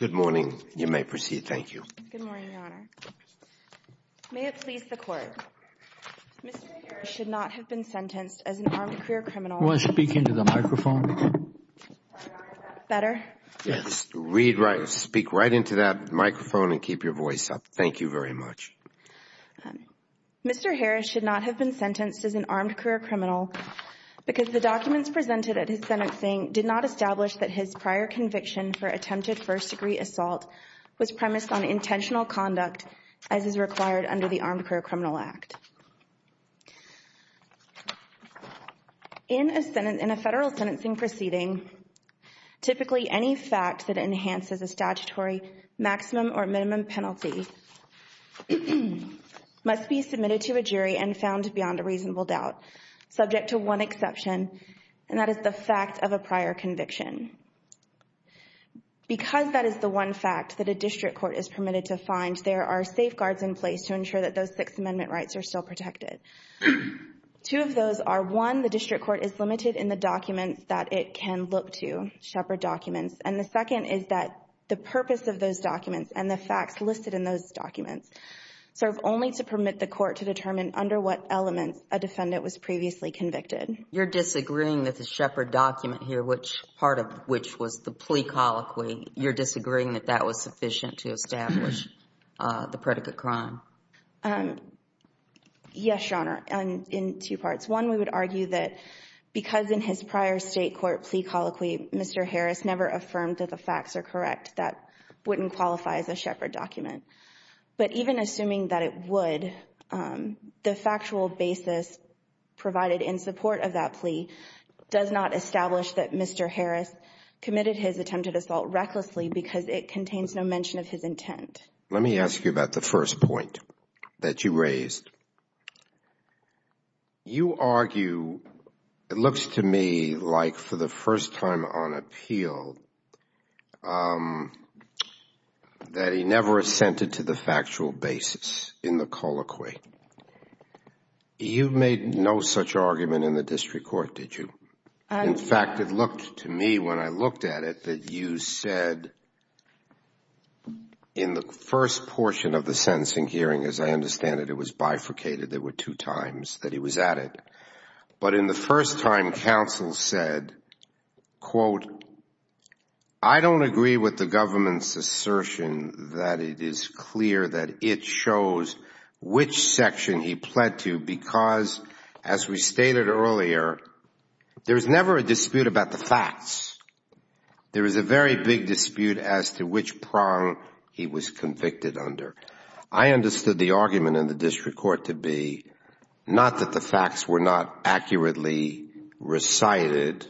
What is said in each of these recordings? and you may proceed. Thank you. Good morning, Your Honor. May it please the court. Mr. Harris should not have been sentenced as an armed career criminal. You want to speak into the microphone? Better? Yes. Read right, speak right into that microphone and keep your voice up. Thank you very much. Mr. Harris should not have been sentenced as an armed career criminal because the documents presented at his sentencing did not establish that his prior conviction for attempted first degree assault was premised on intentional conduct as is required under the Armed Career Criminal Act. In a federal sentencing proceeding, typically any fact that enhances a statutory maximum or minimum penalty must be submitted to a jury and found beyond a reasonable doubt, subject to one exception, and that is the fact of a prior conviction. Because that is the one fact that a district court is permitted to find, there are safeguards in place to ensure that those Sixth Amendment rights are still protected. Two of those are, one, the district court is limited in the documents that it can look to, Shepard documents, and the second is that the purpose of those documents and the facts listed in those documents serve only to permit the court to determine under what elements a defendant was previously convicted. You're disagreeing that the Shepard document here, which part of which was the plea colloquy, you're disagreeing that that was sufficient to establish the predicate crime? Yes, Your Honor, in two parts. One, we would argue that because in his prior state court plea colloquy, Mr. Harris never affirmed that the facts are correct, that wouldn't qualify as a Shepard document. But even assuming that it would, the factual basis provided in support of that plea does not establish that Mr. Harris committed his attempted assault recklessly because it contains no mention of his intent. Let me ask you about the first point that you raised. You argue, it looks to me like for the first time on appeal, that he never assented to the factual basis in the colloquy. You made no such argument in the district court, did you? In fact, it looked to me when I looked at it that you said in the first portion of the sentencing hearing, as I understand it, it was bifurcated. There were two times that he was at it. But in the first time, counsel said, quote, I don't agree with the government's assertion that it is clear that it shows which section he pled to because, as we stated earlier, there is never a dispute about the facts. There is a very big dispute as to which prong he was convicted under. I understood the argument in the district court to be not that the facts were not accurately recited,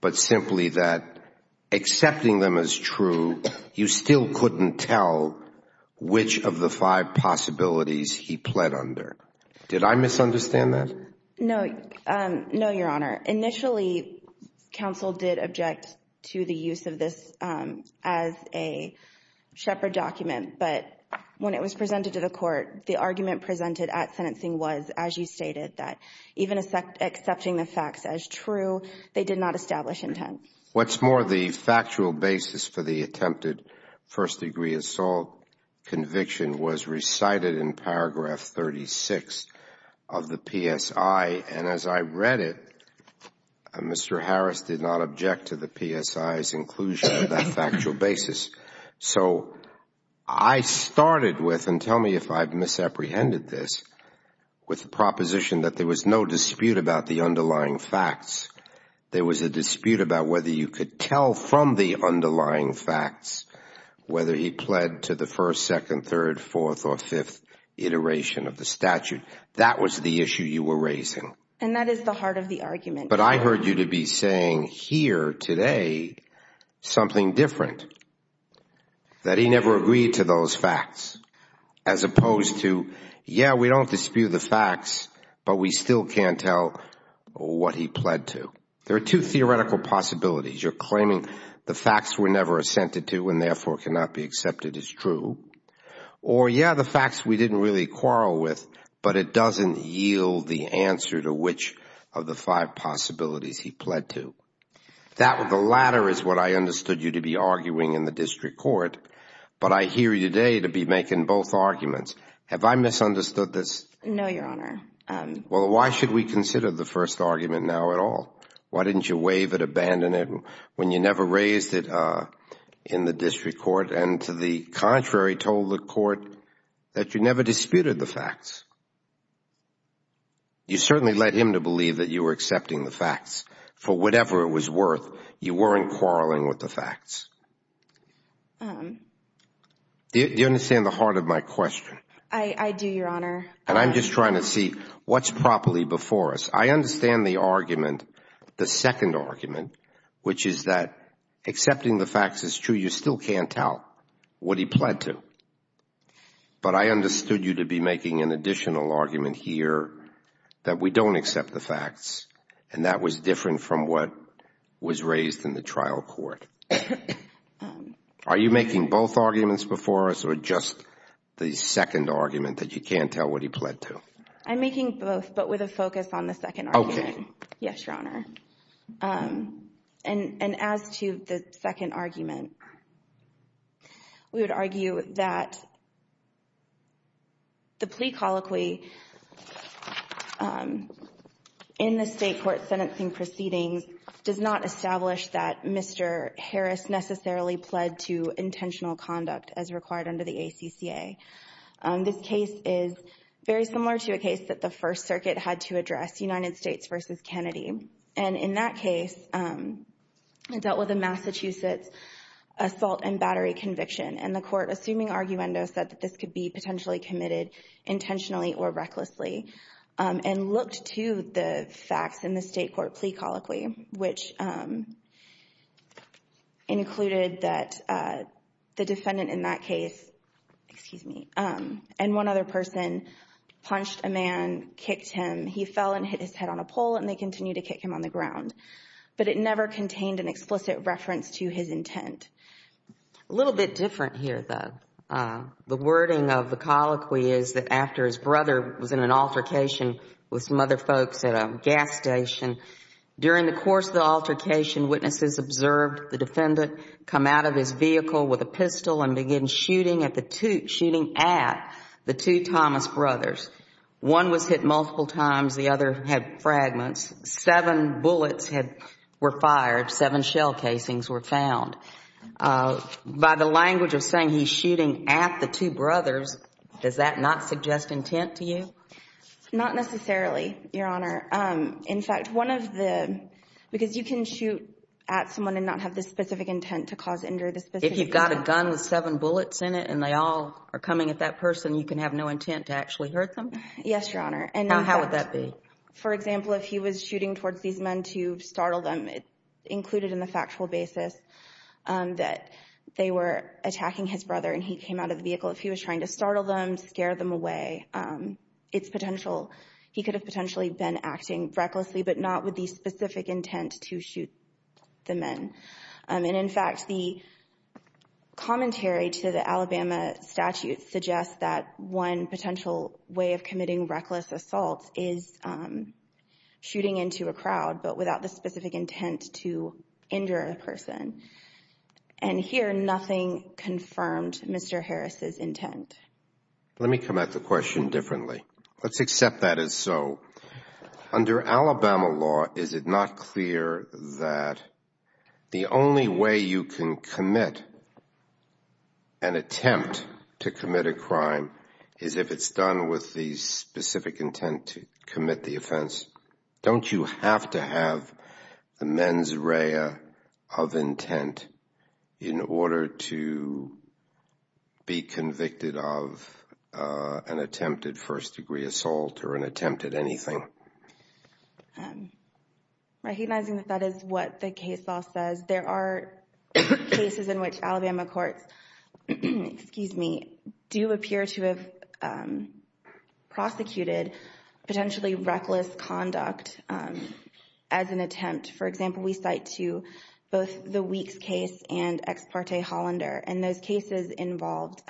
but simply that accepting them as true, you still couldn't tell which of the five possibilities he pled under. Did I misunderstand that? No. No, Your Honor. Initially, counsel did object to the use of this as a shepherd document. But when it was presented to the court, the argument presented at sentencing was, as you the facts as true. They did not establish intent. What's more, the factual basis for the attempted first degree assault conviction was recited in paragraph 36 of the PSI. And as I read it, Mr. Harris did not object to the PSI's inclusion of that factual basis. So I started with, and tell me if I've misapprehended this, with the proposition that there was no dispute about the underlying facts. There was a dispute about whether you could tell from the underlying facts whether he pled to the first, second, third, fourth, or fifth iteration of the statute. That was the issue you were raising. And that is the heart of the argument. But I heard you to be saying here today something different, that he never agreed to those facts, as opposed to, yeah, we don't dispute the facts, but we still can't tell what he pled to. There are two theoretical possibilities. You're claiming the facts were never assented to and therefore cannot be accepted as true. Or, yeah, the facts we didn't really quarrel with, but it doesn't yield the answer to which of the five possibilities he pled to. That or the latter is what I understood you to be arguing in the district court. But I hear you today to be making both arguments. Have I misunderstood this? No, Your Honor. Well, why should we consider the first argument now at all? Why didn't you waive it, abandon it when you never raised it in the district court and to the contrary told the court that you never disputed the facts? You certainly led him to believe that you were accepting the facts. For whatever it was worth, you weren't quarreling with the facts. Do you understand the heart of my question? I do, Your Honor. And I'm just trying to see what's properly before us. I understand the argument, the second argument, which is that accepting the facts is true. You still can't tell what he pled to. But I understood you to be making an additional argument here that we don't accept the facts and that was different from what was raised in the trial court. Are you making both arguments before us or just the second argument that you can't tell what he pled to? I'm making both but with a focus on the second argument. Okay. Yes, Your Honor. And as to the second argument, we would argue that the plea colloquy in the state court sentencing proceedings does not establish that Mr. Harris necessarily pled to intentional conduct as required under the ACCA. This case is very similar to a case that the First Circuit had to address, United States versus Kennedy. And in that case, it dealt with a Massachusetts assault and battery conviction. And the court, assuming arguendo, said that this could be potentially committed intentionally or recklessly and looked to the facts in the state court plea colloquy, which included that the defendant in that case, excuse me, and one other person punched a man, kicked him. He fell and hit his head on a pole and they continued to kick him on the ground. But it never contained an explicit reference to his intent. A little bit different here, though. The wording of the colloquy is that after his brother was in an altercation with some other folks at a gas station, during the course of the altercation, witnesses observed the defendant come out of his vehicle with a pistol and begin shooting at the two Thomas brothers. One was hit multiple times. The other had fragments. Seven bullets were fired. Seven shell casings were found. By the language of saying he's shooting at the two brothers, does that not suggest intent to you? Not necessarily, Your Honor. In fact, one of the, because you can shoot at someone and not have the specific intent to cause injury. If you've got a gun with seven bullets in it and they all are coming at that person, you can have no intent to actually hurt them? Yes, Your Honor. And how would that be? For example, if he was shooting towards these men to startle them, it's included in the factual basis that they were attacking his brother and he came out of the vehicle. If he was trying to he could have potentially been acting recklessly, but not with the specific intent to shoot the men. And in fact, the commentary to the Alabama statute suggests that one potential way of committing reckless assault is shooting into a crowd, but without the specific intent to injure a person. And here, nothing confirmed Mr. Harris's intent. Let me come at the question differently. Let's accept that as so. Under Alabama law, is it not clear that the only way you can commit an attempt to commit a crime is if it's done with the specific intent to commit the offense? Don't you have to have the mens rea of intent in order to be convicted of an attempted first degree assault or an attempted anything? Recognizing that that is what the case law says, there are cases in which Alabama courts, excuse me, do appear to have prosecuted potentially reckless conduct as an attempt. For example, we cite to both the Weeks case and Ex parte Hollander. And those cases involved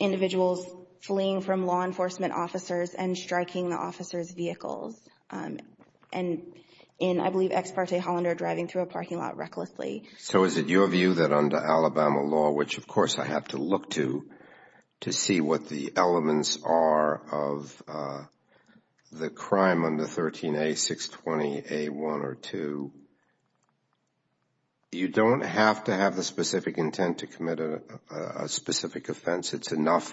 individuals fleeing from law enforcement officers and striking the officer's vehicles. And in, I believe, Ex parte Hollander, driving through a parking lot recklessly. So is it your view that under Alabama law, which of course I have to look to, to see what the elements are of the crime under 13A, 620A1 or 2, you don't have to have the specific intent to commit a specific offense? It's enough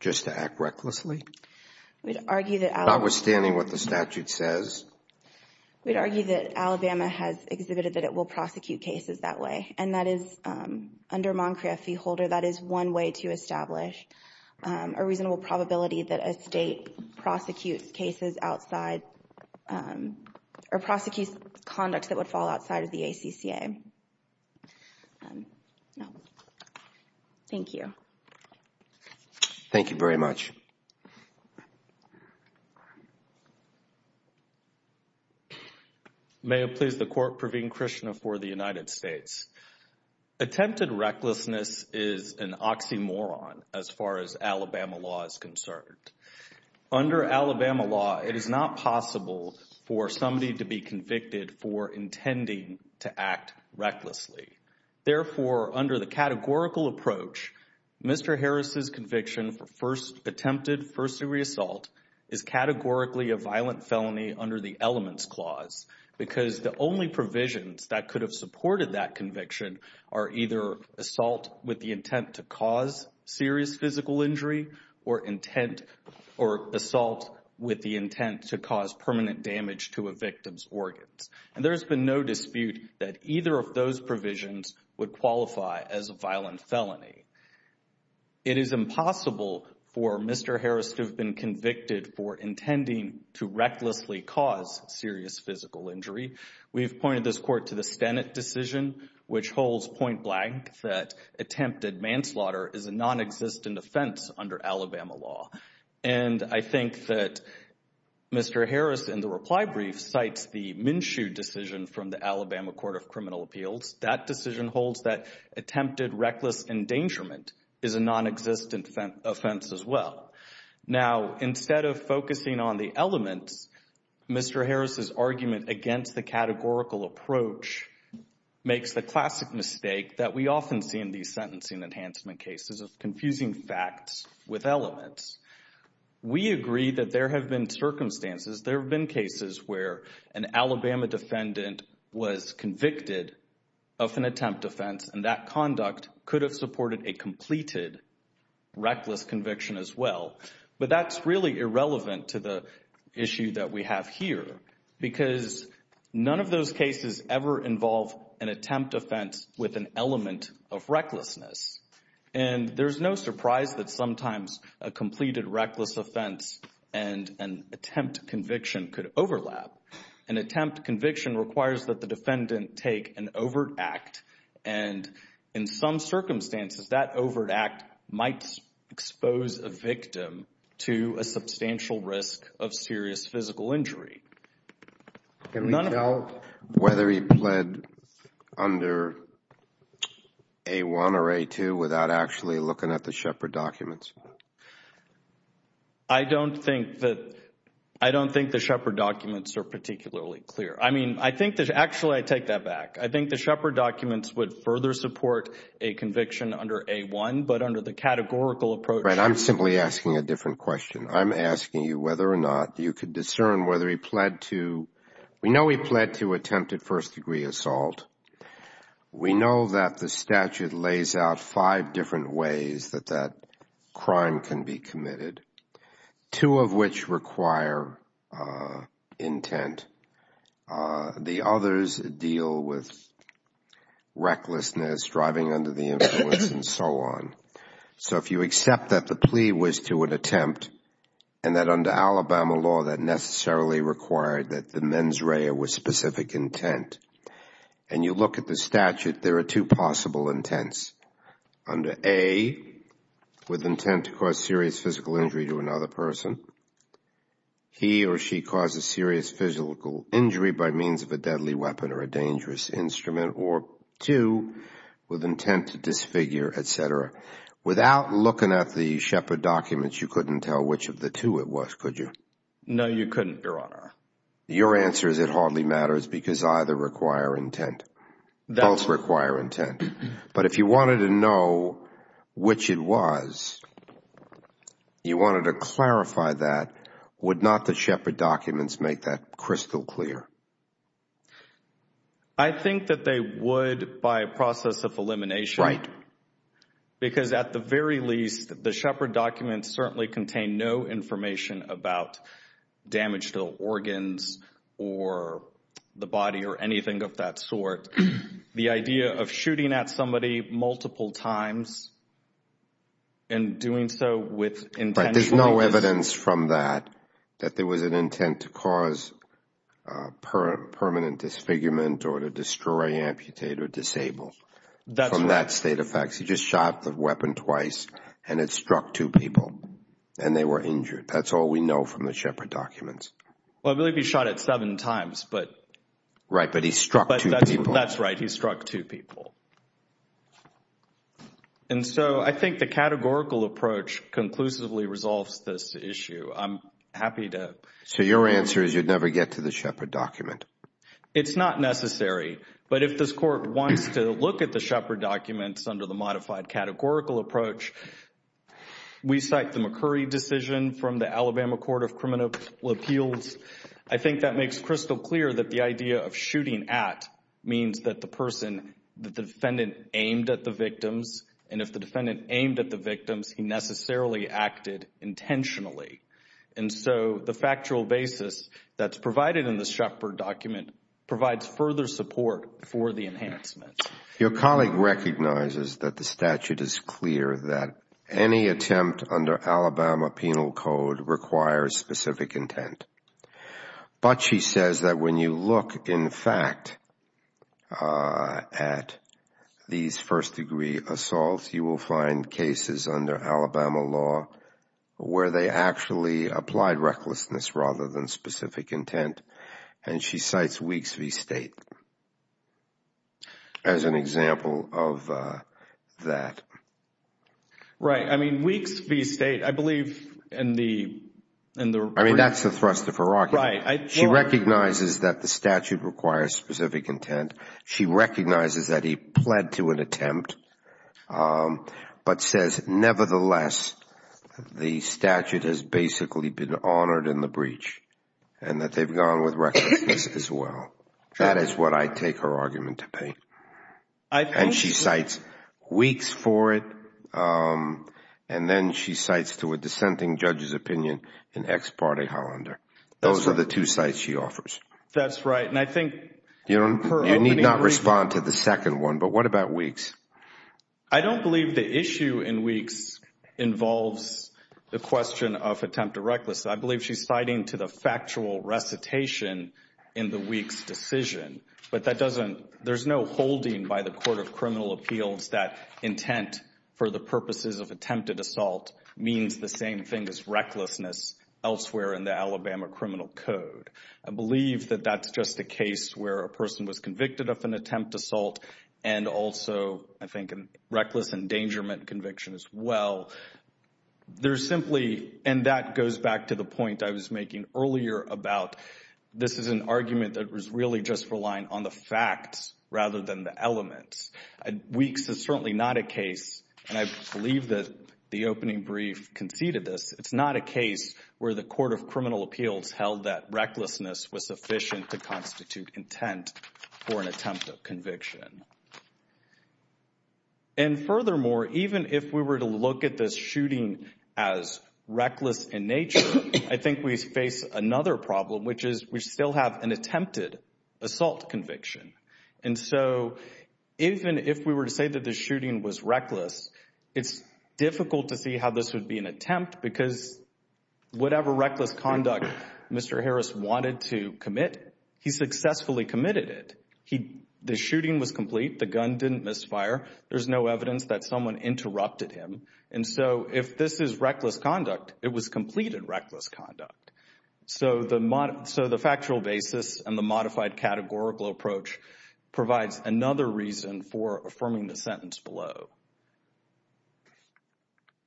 just to act recklessly? Notwithstanding what the statute says? We'd argue that Alabama has exhibited that it will prosecute cases that way. And that is, under Moncria v. Holder, that is one way to establish a reasonable probability that a state prosecutes cases outside or prosecutes conduct that would fall outside of the ACCA. Thank you. Thank you very much. May it please the Court, Praveen Krishna for the United States. Attempted recklessness is an oxymoron as far as Alabama law is concerned. Under Alabama law, it is not possible for somebody to be convicted for intending to act recklessly. Therefore, under the categorical approach, Mr. Harris's conviction for first attempted first-degree assault is categorically a violent felony under the Elements Clause because the only provisions that could have supported that conviction are either assault with the intent to cause serious physical injury or assault with the intent to cause permanent damage to a victim's organs. And there's been no dispute that either of those provisions would qualify as a violent felony. It is impossible for Mr. Harris to have been convicted for intending to recklessly cause serious physical injury. We've pointed this Court to the Stennett decision, which holds point blank that attempted manslaughter is a non-existent offense under Alabama law. And I think that Mr. Harris, in the reply brief, cites the Minshew decision from the Alabama Court of Criminal is a non-existent offense as well. Now, instead of focusing on the elements, Mr. Harris's argument against the categorical approach makes the classic mistake that we often see in these sentencing enhancement cases of confusing facts with elements. We agree that there have been circumstances, there have been cases where an Alabama defendant was convicted of an attempt offense and that conduct could have supported a completed reckless conviction as well. But that's really irrelevant to the issue that we have here because none of those cases ever involve an attempt offense with an element of recklessness. And there's no surprise that sometimes a completed reckless offense and an attempt conviction could the defendant take an overt act and in some circumstances that overt act might expose a victim to a substantial risk of serious physical injury. Can we tell whether he pled under A-1 or A-2 without actually looking at the Shepard documents? I don't think that, I don't think the Shepard documents are particularly clear. I mean, I think that actually I take that back. I think the Shepard documents would further support a conviction under A-1 but under the categorical approach. Right, I'm simply asking a different question. I'm asking you whether or not you could discern whether he pled to, we know he pled to attempt at first degree assault. We know that the statute lays out five different ways that that crime can be committed, two of which require intent. The others deal with recklessness, driving under the influence and so on. So if you accept that the plea was to an attempt and that under Alabama law that necessarily required that the mens rea with specific intent and you look at the statute, there are two possible intents. Under A, with intent to cause serious physical injury to another person. He or she causes serious physical injury by means of a deadly weapon or a dangerous instrument or two with intent to disfigure, etc. Without looking at the Shepard documents, you couldn't tell which of the two it was, could you? No, you couldn't, Your Honor. Your answer is it hardly matters because either require intent, both require intent. But if you wanted to know which it was, you wanted to clarify that, would not the Shepard documents make that crystal clear? I think that they would by process of elimination because at the very least, the Shepard documents certainly contain no information about damage to organs or the body or anything of that sort. The idea of shooting at somebody multiple times and doing so with intent. But there's no evidence from that, that there was an intent to cause permanent disfigurement or to destroy, amputate or disable. From that state of facts, he just shot the weapon twice and it struck two people and they were injured. That's all we know from the Shepard documents. Well, I believe he shot it seven times, but. Right, but he struck two people. That's right, he struck two people. And so I think the categorical approach conclusively resolves this issue. I'm happy to. So your answer is you'd never get to the Shepard document. It's not necessary, but if this court wants to look at the Shepard documents under the modified categorical approach, we cite the McCurry decision from the Alabama Court of Criminal Appeals. I think that makes crystal clear that the idea of shooting at means that the person, that the defendant aimed at the victims. And if the defendant aimed at the victims, he necessarily acted intentionally. And so the factual basis that's provided in the Shepard document provides further support for the enhancement. Your colleague recognizes that the statute is clear that any attempt under Alabama Penal Code requires specific intent. But she says that when you look, in fact, at these first degree assaults, you will find cases under Alabama law where they actually applied recklessness rather than specific intent. And she cites Weeks v. State as an example of that. Right, I mean, Weeks v. State, I believe in the- I mean, that's the thrust of her argument. She recognizes that the statute requires specific intent. She recognizes that he pled to an attempt, but says, nevertheless, the statute has basically been honored in the breach and that they've gone with recklessness as well. That is what I take her argument to be. And she cites Weeks for it. And then she cites to a dissenting judge's opinion in ex parte Hollander. Those are the two sites she offers. That's right. And I think- You need not respond to the second one, but what about Weeks? I don't believe the issue in Weeks involves the question of attempt to reckless. I believe she's citing to the factual recitation in the Weeks decision. But that doesn't- there's no holding by the Court of Criminal Appeals that intent for the purposes of attempted assault means the same thing as recklessness elsewhere in the Alabama Criminal Code. I believe that that's just a case where a person was convicted of an attempt assault and also, I think, a reckless endangerment conviction as well. There's simply- and that goes back to the point I was making earlier about this is an argument that was really just relying on the facts rather than the elements. Weeks is certainly not a case, and I believe that the opening brief conceded this. It's not a case where the Court of Criminal was sufficient to constitute intent for an attempt of conviction. And furthermore, even if we were to look at this shooting as reckless in nature, I think we face another problem, which is we still have an attempted assault conviction. And so even if we were to say that the shooting was reckless, it's difficult to see how this would be an attempt because whatever reckless conduct Mr. Harris wanted to commit, he successfully committed it. The shooting was complete. The gun didn't misfire. There's no evidence that someone interrupted him. And so if this is reckless conduct, it was completed reckless conduct. So the factual basis and the modified categorical approach provides another reason for affirming the sentence below.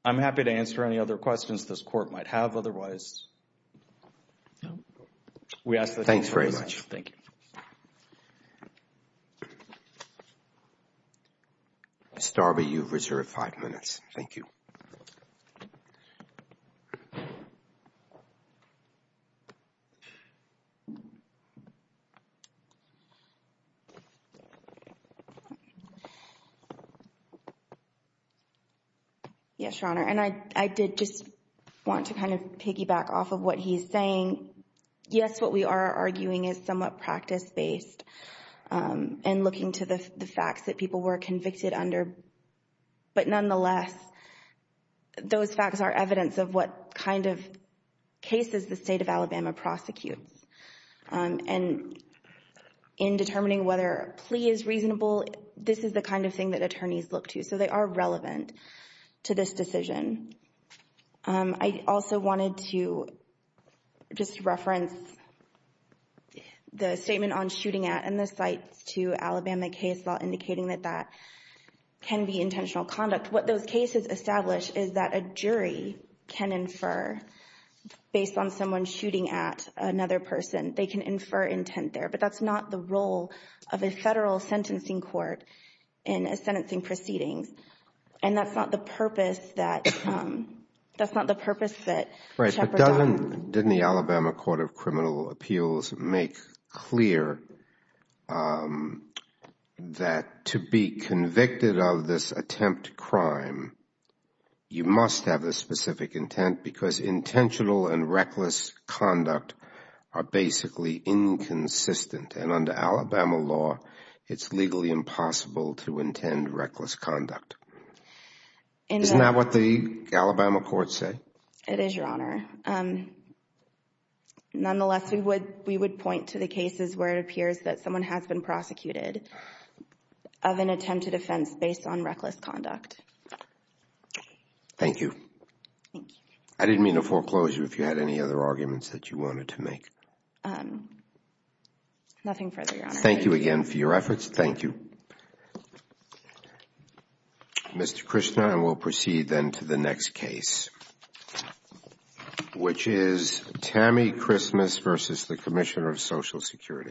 I'm happy to answer any other questions this Court might have. Otherwise, we ask that you please. Thanks very much. Thank you. Mr. Darby, you've reserved five minutes. Thank you. Yes, Your Honor. And I did just want to kind of piggyback off of what he's saying. Yes, what we are arguing is somewhat practice-based and looking to the facts that people were convicted under. But nonetheless, those facts are evidence of what kind of cases the state of Alabama prosecutes. And in determining whether a plea is reasonable, this is the kind of thing that attorneys look to. So they are relevant to this decision. I also wanted to just reference the statement on shooting at and the sites to Alabama case law indicating that that can be intentional conduct. What those cases establish is that a jury can infer based on someone shooting at another person. They can infer intent there. But that's not the role of a federal sentencing court in a sentencing proceedings. And that's not the purpose that, that's not the purpose that. Right. But doesn't, didn't the Alabama Court of Criminal Appeals make clear that to be convicted of this attempt crime, you must have a specific intent because intentional and reckless conduct are basically inconsistent. And under Alabama law, it's legally impossible to intend reckless conduct. Isn't that what the Alabama courts say? It is, Your Honor. Nonetheless, we would, we would point to the cases where it appears that someone has been prosecuted of an attempted offense based on reckless conduct. Thank you. I didn't mean a foreclosure if you had any other arguments that you wanted to make. Nothing further, Your Honor. Thank you again for your efforts. Thank you. Mr. Krishna, I will proceed then to the next case, which is Tammy Christmas versus the Commissioner of Social Security.